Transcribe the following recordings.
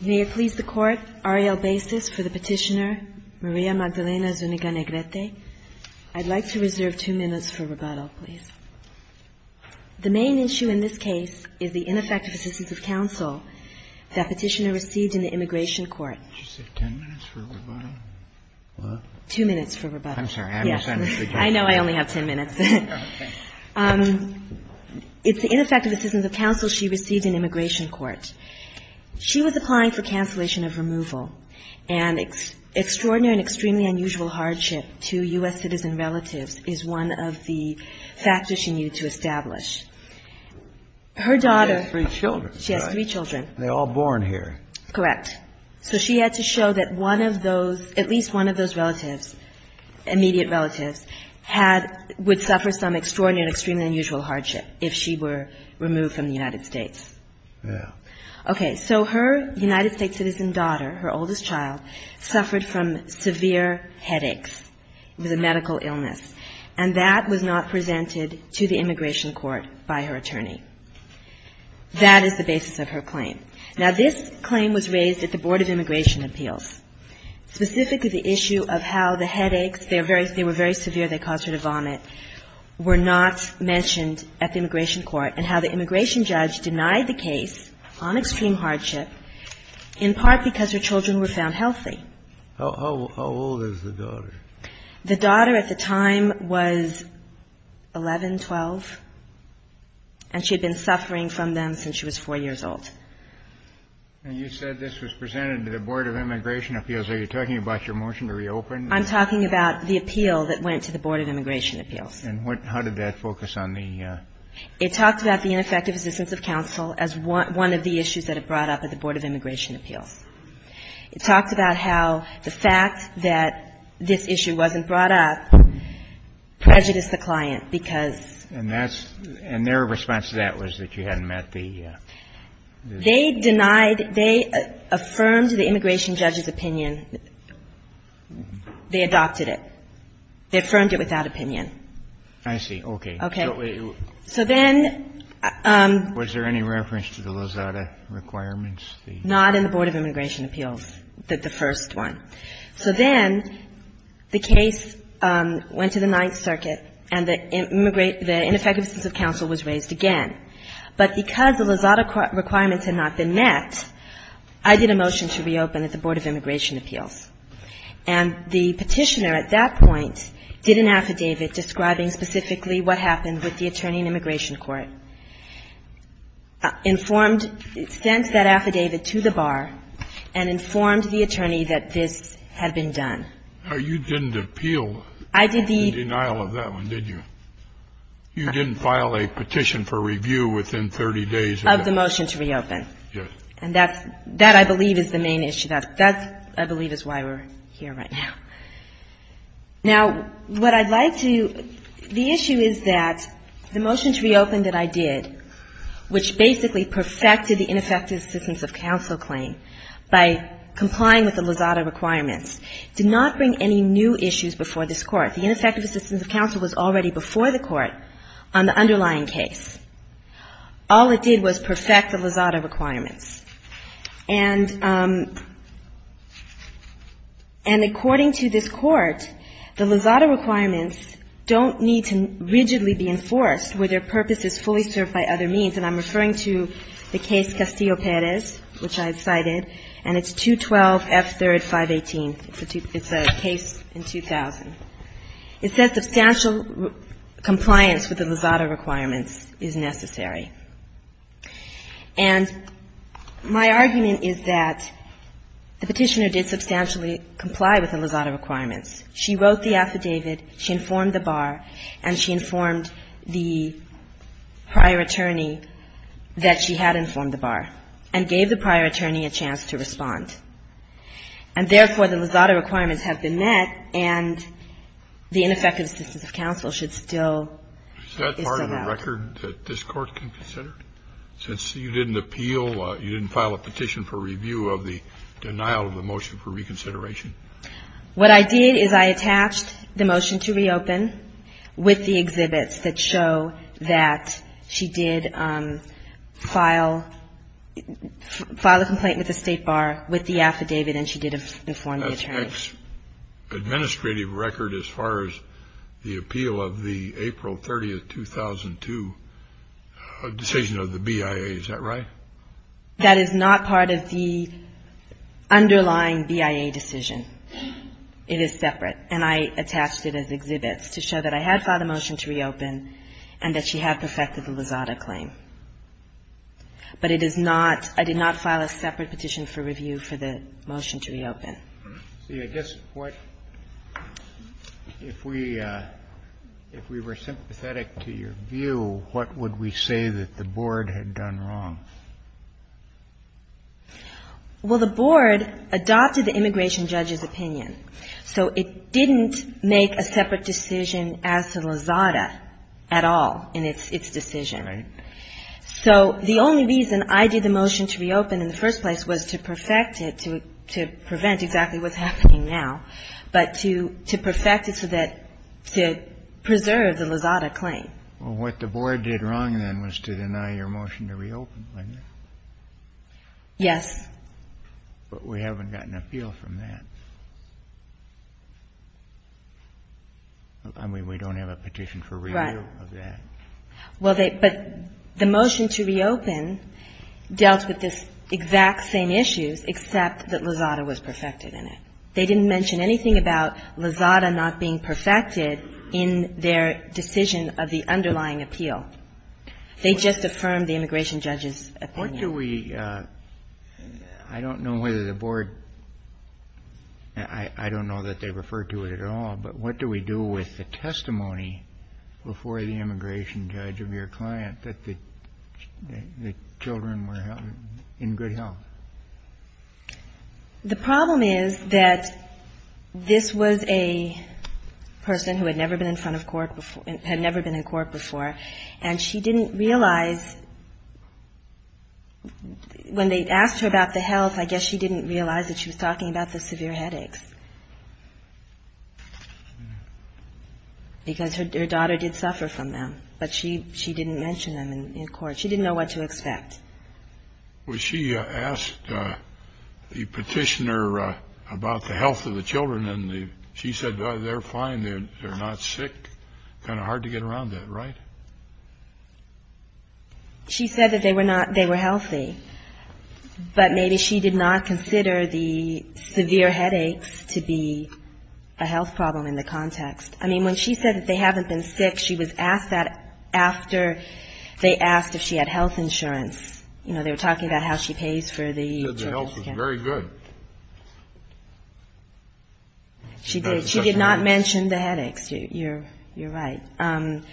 May it please the Court, Ariel Basis for the petitioner, Maria Magdalena ZUNIGA-NEGRETE. I'd like to reserve two minutes for rebuttal, please. The main issue in this case is the ineffective assistance of counsel that petitioner received in the immigration court. Did you say ten minutes for rebuttal? What? Two minutes for rebuttal. I'm sorry, I misunderstood. I know I only have ten minutes. Okay. It's the ineffective assistance of counsel she received in immigration court. She was applying for cancellation of removal. And extraordinary and extremely unusual hardship to U.S. citizen relatives is one of the factors she needed to establish. Her daughter — She has three children, right? She has three children. They're all born here. Correct. So she had to show that one of those, at least one of those relatives, immediate relatives, had — would suffer some extraordinary and extremely unusual hardship if she were removed from the United States. Yeah. Okay. So her United States citizen daughter, her oldest child, suffered from severe headaches. It was a medical illness. And that was not presented to the immigration court by her attorney. That is the basis of her claim. Now, this claim was raised at the Board of Immigration Appeals, specifically the issue of how the headaches, they were very severe, they caused her to vomit, were not mentioned at the immigration court, and how the immigration judge denied the case on extreme hardship, in part because her children were found healthy. How old is the daughter? The daughter at the time was 11, 12, and she had been suffering from them since she was 4 years old. And you said this was presented to the Board of Immigration Appeals. Are you talking about your motion to reopen? I'm talking about the appeal that went to the Board of Immigration Appeals. And what — how did that focus on the — It talked about the ineffective assistance of counsel as one of the issues that it brought up at the Board of Immigration Appeals. It talked about how the fact that this issue wasn't brought up prejudiced the client because — And that's — and their response to that was that you hadn't met the — They denied — they affirmed the immigration judge's opinion. They adopted it. They affirmed it with that opinion. I see. Okay. Okay. So then — Was there any reference to the Lozada requirements? Not in the Board of Immigration Appeals, the first one. So then the case went to the Ninth Circuit, and the ineffective assistance of counsel was raised again. But because the Lozada requirements had not been met, I did a motion to reopen at the Board of Immigration Appeals. And the petitioner at that point did an affidavit describing specifically what happened with the attorney in immigration court, informed — sent that affidavit to the bar, and informed the attorney that this had been done. You didn't appeal the denial of that one, did you? You didn't file a petition for review within 30 days of the — Of the motion to reopen. Yes. And that's — that, I believe, is the main issue. That's — that, I believe, is why we're here right now. Now, what I'd like to — the issue is that the motion to reopen that I did, which basically perfected the ineffective assistance of counsel claim by complying with the Lozada requirements, did not bring any new issues before this Court. The ineffective assistance of counsel was already before the Court on the underlying case. All it did was perfect the Lozada requirements. And — and according to this Court, the Lozada requirements don't need to rigidly be enforced where their purpose is fully served by other means. And I'm referring to the case Castillo-Perez, which I've cited, and it's 212F3-518. It's a case in 2000. It says substantial compliance with the Lozada requirements is necessary. And my argument is that the Petitioner did substantially comply with the Lozada requirements. She wrote the affidavit, she informed the bar, and she informed the prior attorney that she had informed the bar, and gave the prior attorney a chance to respond. And therefore, the Lozada requirements have been met, and the ineffective assistance of counsel should still be served. And that's the record that this Court can consider? Since you didn't appeal, you didn't file a petition for review of the denial of the motion for reconsideration? What I did is I attached the motion to reopen with the exhibits that show that she did file — file a complaint with the State Bar with the affidavit, and she did inform the attorney. The next administrative record as far as the appeal of the April 30, 2002 decision of the BIA, is that right? That is not part of the underlying BIA decision. It is separate. And I attached it as exhibits to show that I had filed a motion to reopen and that she had perfected the Lozada claim. But it is not — I did not file a separate petition for review for the motion to reopen. See, I guess what — if we — if we were sympathetic to your view, what would we say that the board had done wrong? Well, the board adopted the immigration judge's opinion. So it didn't make a separate decision as to Lozada at all in its decision. Right. So the only reason I did the motion to reopen in the first place was to perfect it to — to prevent exactly what's happening now, but to — to perfect it so that — to preserve the Lozada claim. Well, what the board did wrong then was to deny your motion to reopen, wasn't it? Yes. But we haven't gotten an appeal from that. I mean, we don't have a petition for review of that. Right. Well, they — but the motion to reopen dealt with this exact same issues, except that Lozada was perfected in it. They didn't mention anything about Lozada not being perfected in their decision of the underlying appeal. They just affirmed the immigration judge's opinion. What do we — I don't know whether the board — I don't know that they referred to it at all, but what do we do with the testimony before the immigration judge of your client that the — that the children were in good health? The problem is that this was a person who had never been in front of court before — had never been in court before, and she didn't realize — when they asked her about the health, I guess she didn't realize that she was talking about the severe headaches because her daughter did suffer from them, but she didn't mention them in court. She didn't know what to expect. Well, she asked the petitioner about the health of the children, and she said, well, they're fine. They're not sick. Kind of hard to get around that, right? She said that they were not — they were healthy, but maybe she did not consider the severe headaches to be a health problem in the context. I mean, when she said that they haven't been sick, she was asked that after they asked if she had health insurance. You know, they were talking about how she pays for the children's — She said the health was very good. She did. She did not mention the headaches. You're right. And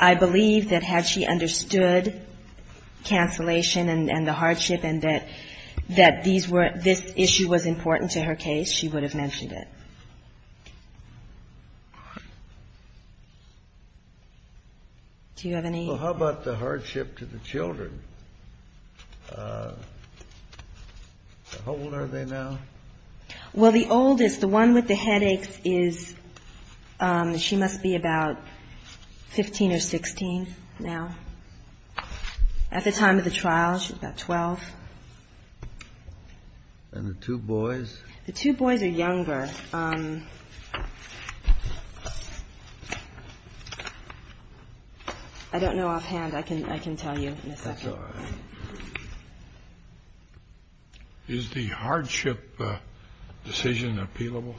I believe that had she understood cancellation and the hardship and that these were — this issue was important to her case, she would have mentioned it. Do you have any — Well, how about the hardship to the children? How old are they now? Well, the oldest. The one with the headaches is — she must be about 15 or 16 now. At the time of the trial, she was about 12. And the two boys? The two boys are younger. I don't know offhand. I can tell you in a second. That's all right. Is the hardship decision appealable?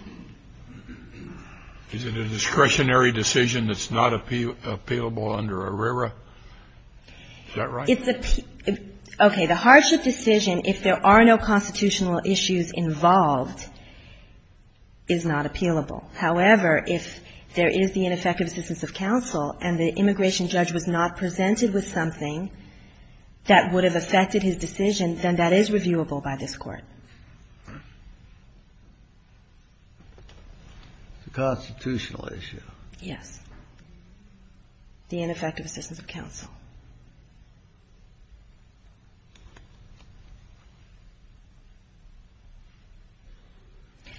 Is it a discretionary decision that's not appealable under ARERA? Is that right? Okay. The hardship decision, if there are no constitutional issues involved, is not appealable. However, if there is the ineffective assistance of counsel and the immigration judge was not presented with something, that would have affected his decision, then that is reviewable by this Court. It's a constitutional issue. Yes. The ineffective assistance of counsel.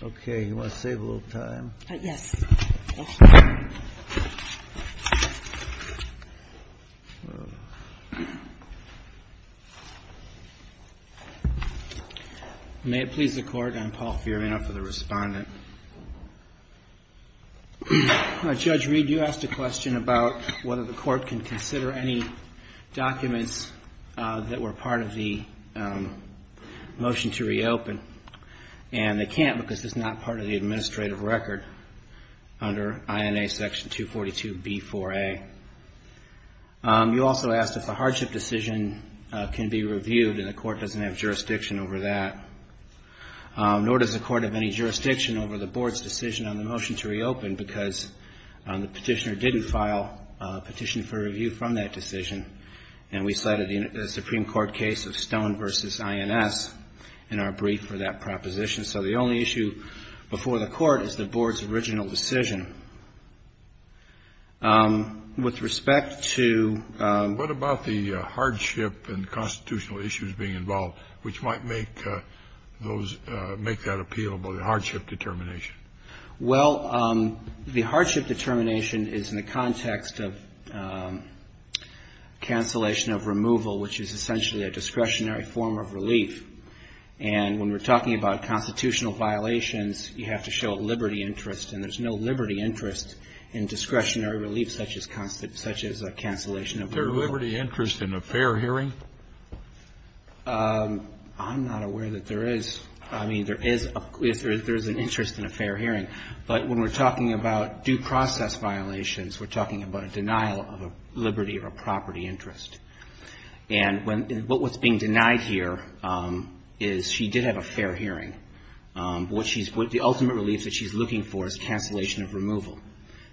Okay. You want to save a little time? Yes. May it please the Court. I'm Paul Fiorina for the Respondent. Judge Reed, you asked a question about whether the Court can consider any documents that were part of the motion to reopen. And they can't because it's not part of the administrative record under INA Section 242B4A. You also asked if a hardship decision can be reviewed and the Court doesn't have jurisdiction over that, nor does the Court have any jurisdiction over the Board's decision on the motion to reopen because the petitioner didn't file a petition for review from that decision. And we cited the Supreme Court case of Stone v. INS in our brief for that proposition. So the only issue before the Court is the Board's original decision. With respect to ---- What about the hardship and constitutional issues being involved, which might make those ---- make that appealable, the hardship determination? Well, the hardship determination is in the context of cancellation of removal, which is essentially a discretionary form of relief. And when we're talking about constitutional violations, you have to show a liberty interest. And there's no liberty interest in discretionary relief such as cancellation of removal. Is there a liberty interest in a fair hearing? I'm not aware that there is. I mean, there is an interest in a fair hearing. But when we're talking about due process violations, we're talking about a denial of a liberty or a property interest. And what's being denied here is she did have a fair hearing. The ultimate relief that she's looking for is cancellation of removal.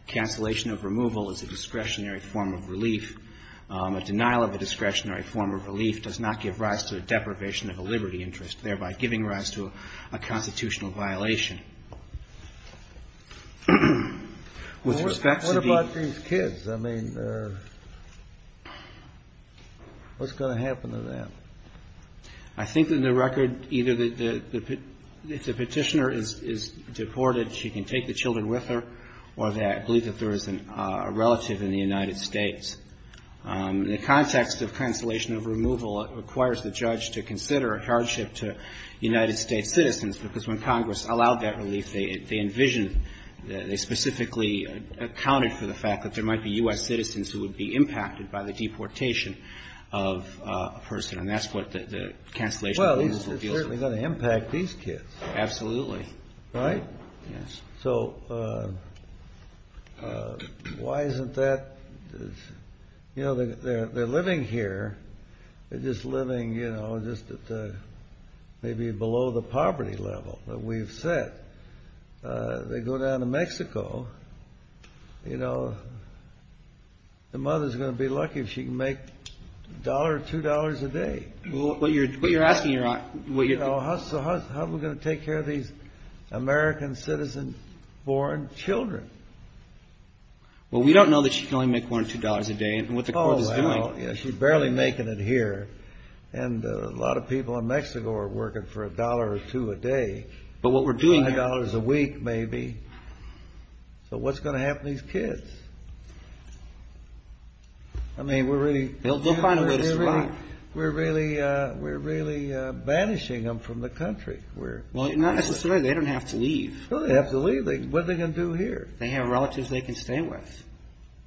Cancellation of removal is a discretionary form of relief. A denial of a discretionary form of relief does not give rise to a deprivation of a liberty interest, thereby giving rise to a constitutional violation. With respect to the ---- What about these kids? I mean, what's going to happen to them? I think that in the record, either the petitioner is deported, she can take the children with her, or I believe that there is a relative in the United States. In the context of cancellation of removal, it requires the judge to consider a hardship to United States citizens, because when Congress allowed that relief, they envisioned, they specifically accounted for the fact that there might be U.S. Well, it's certainly going to impact these kids. Absolutely. Right? Yes. So, why isn't that? You know, they're living here. They're just living, you know, just at the, maybe below the poverty level that we've set. They go down to Mexico. You know, the mother's going to be lucky if she can make a dollar or two dollars a day. What you're asking, Your Honor, what you're How are we going to take care of these American citizen-born children? Well, we don't know that she can only make one or two dollars a day, and what the court is doing Oh, well, she's barely making it here, and a lot of people in Mexico are working for a dollar or two a day. But what we're doing Five dollars a week, maybe. So what's going to happen to these kids? I mean, we're really They'll find a way to survive. We're really banishing them from the country. Well, not necessarily. They don't have to leave. No, they have to leave. What are they going to do here? They have relatives they can stay with.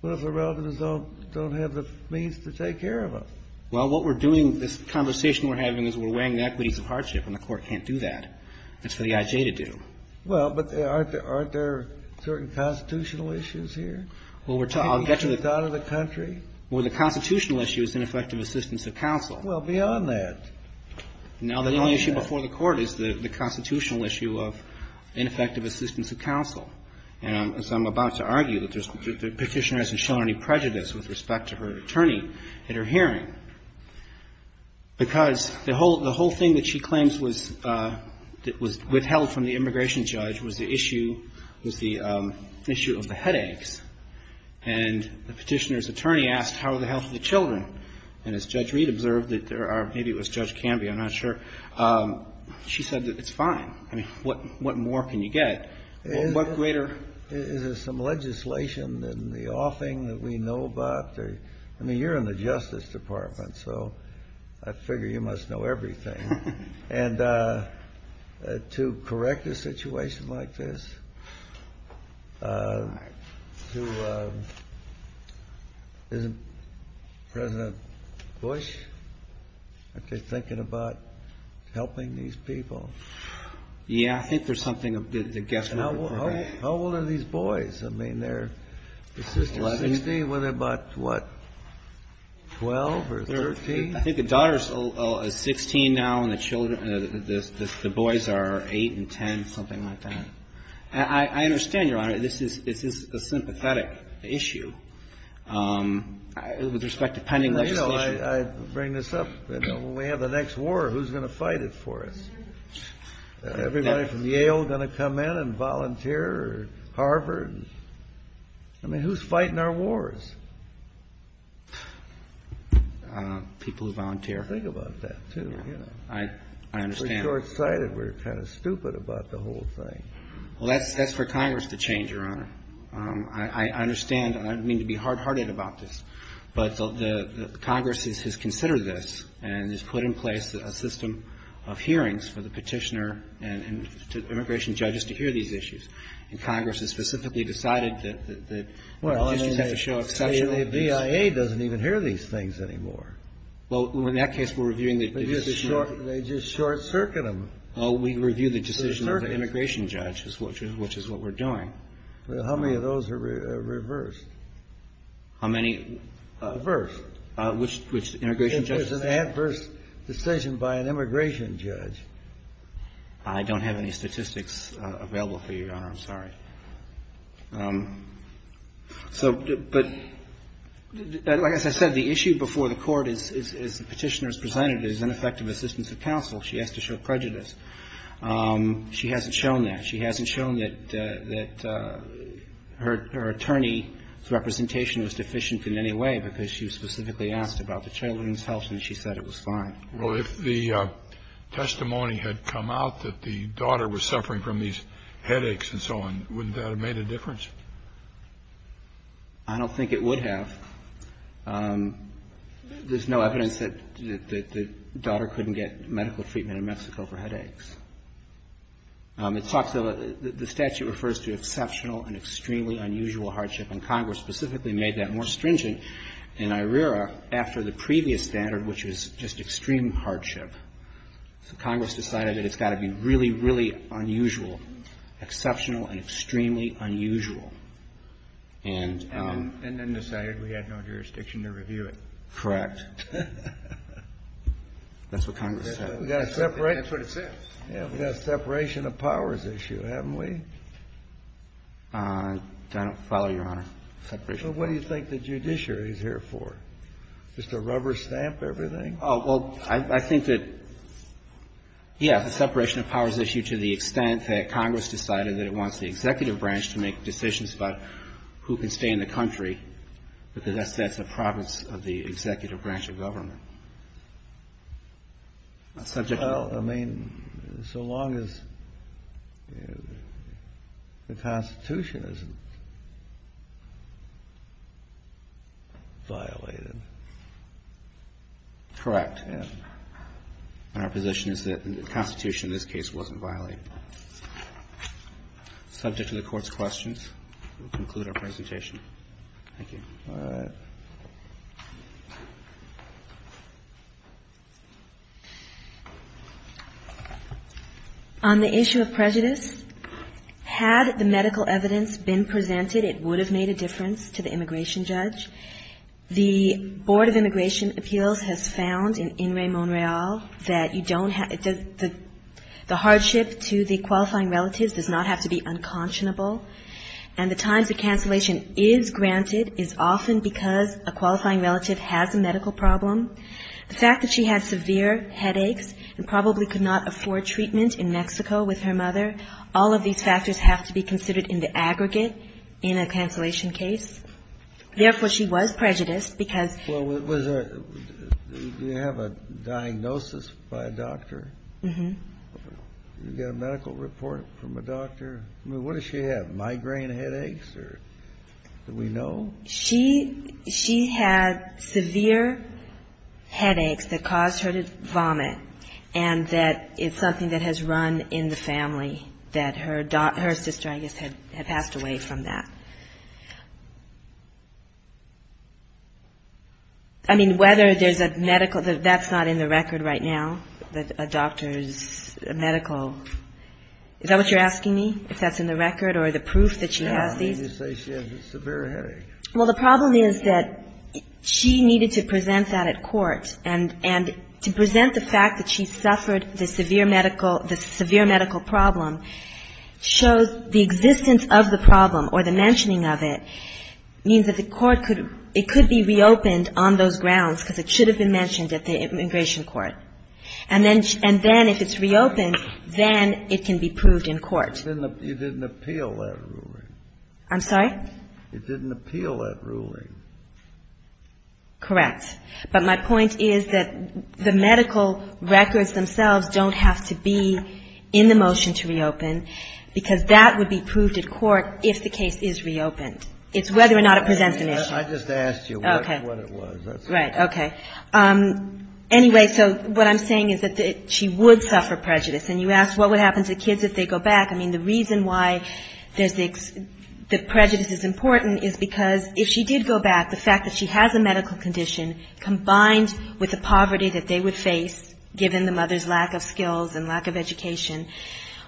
What if the relatives don't have the means to take care of them? Well, what we're doing, this conversation we're having is we're weighing the equities of hardship, and the court can't do that. It's for the I.J. to do. Well, but aren't there certain constitutional issues here? Well, I'll get to the People can't get out of the country. Well, the constitutional issue is ineffective assistance of counsel. Well, beyond that. Now, the only issue before the court is the constitutional issue of ineffective assistance of counsel. And so I'm about to argue that the Petitioner hasn't shown any prejudice with respect to her attorney at her hearing, because the whole thing that she claims was withheld from the immigration judge was the issue of the headaches. And the Petitioner's attorney asked, how are the health of the children? And as Judge Reed observed, maybe it was Judge Canby, I'm not sure, she said that it's fine. I mean, what more can you get? What greater Is there some legislation in the offing that we know about? I mean, you're in the Justice Department, so I figure you must know everything. And to correct a situation like this, isn't President Bush thinking about helping these people? Yeah, I think there's something of the guesswork. How old are these boys? I mean, they're 16 with about, what, 12 or 13? I think the daughter is 16 now, and the boys are 8 and 10, something like that. I understand, Your Honor, this is a sympathetic issue with respect to pending legislation. I bring this up. We have the next war. Who's going to fight it for us? Everybody from Yale going to come in and volunteer, or Harvard? I mean, who's fighting our wars? People who volunteer. Think about that, too. I understand. We're short-sighted. We're kind of stupid about the whole thing. Well, that's for Congress to change, Your Honor. I understand, and I don't mean to be hard-hearted about this, but the Congress has considered this and has put in place a system of hearings for the petitioner and immigration judges to hear these issues, and Congress has specifically decided that the district has to show exception to these. Well, the BIA doesn't even hear these things anymore. Well, in that case, we're reviewing the decision. They just short-circuit them. Well, we review the decision of the immigration judge, which is what we're doing. How many of those are reversed? How many? Reversed. Which the immigration judge? It's an adverse decision by an immigration judge. I don't have any statistics available for you, Your Honor. I'm sorry. So, but like I said, the issue before the court is the petitioner is presented as ineffective assistance of counsel. She has to show prejudice. She hasn't shown that. She hasn't shown that her attorney's representation was deficient in any way because she was specifically asked about the Well, if the testimony had come out that the daughter was suffering from these headaches and so on, wouldn't that have made a difference? I don't think it would have. There's no evidence that the daughter couldn't get medical treatment in Mexico for headaches. It talks about the statute refers to exceptional and extremely unusual hardship, and Congress specifically made that more stringent in IRERA after the previous standard, which was just extreme hardship. So Congress decided that it's got to be really, really unusual, exceptional and extremely unusual. And then decided we had no jurisdiction to review it. Correct. That's what Congress said. That's what it said. We've got a separation of powers issue, haven't we? I don't follow, Your Honor. Separation. So what do you think the judiciary is here for? Just to rubber stamp everything? Oh, well, I think that, yes, the separation of powers issue to the extent that Congress decided that it wants the executive branch to make decisions about who can stay in the country, because that's the province of the executive branch of government. Well, I mean, so long as the Constitution isn't violated. Correct. And our position is that the Constitution in this case wasn't violated. Subject to the Court's questions, we conclude our presentation. Thank you. All right. On the issue of prejudice, had the medical evidence been presented, it would have made a difference to the immigration judge. The Board of Immigration Appeals has found in In Re Mon Real that you don't have to the hardship to the qualifying relatives does not have to be unconscionable. And the times the cancellation is granted is often because a qualifying relative has a medical problem. The fact that she had severe headaches and probably could not afford treatment in Mexico with her mother, all of these factors have to be considered in the aggregate in a cancellation case. Therefore, she was prejudiced because of it. Do you have a diagnosis by a doctor? Mm-hmm. Do you get a medical report from a doctor? I mean, what does she have, migraine headaches, or do we know? She had severe headaches that caused her to vomit, and that is something that has run in the family, that her sister, I guess, had passed away from that. I mean, whether there's a medical – that's not in the record right now, a doctor's medical – is that what you're asking me? If that's in the record or the proof that she has these? Yeah. I mean, you say she has a severe headache. Well, the problem is that she needed to present that at court. And to present the fact that she suffered the severe medical – the severe medical problem shows the existence of the problem or the mentioning of it means that the court could – it could be reopened on those grounds because it should have been mentioned at the immigration court. And then if it's reopened, then it can be proved in court. But you didn't appeal that ruling. I'm sorry? You didn't appeal that ruling. Correct. But my point is that the medical records themselves don't have to be in the motion to reopen because that would be proved at court if the case is reopened. It's whether or not it presents an issue. I just asked you what it was. Right. Anyway, so what I'm saying is that she would suffer prejudice. And you asked what would happen to kids if they go back. I mean, the reason why there's the – that prejudice is important is because if she did go back, the fact that she has a medical condition combined with the poverty that they would face, given the mother's lack of skills and lack of education,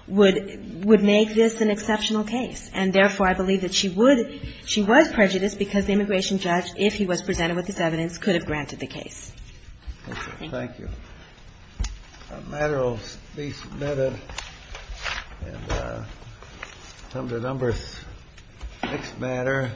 would make this an exceptional case. And therefore, I believe that she would – she was prejudiced because the immigration judge, if he was presented with this evidence, could have granted the case. Thank you. Thank you. The matter will be submitted. And some of the numbers. Next matter.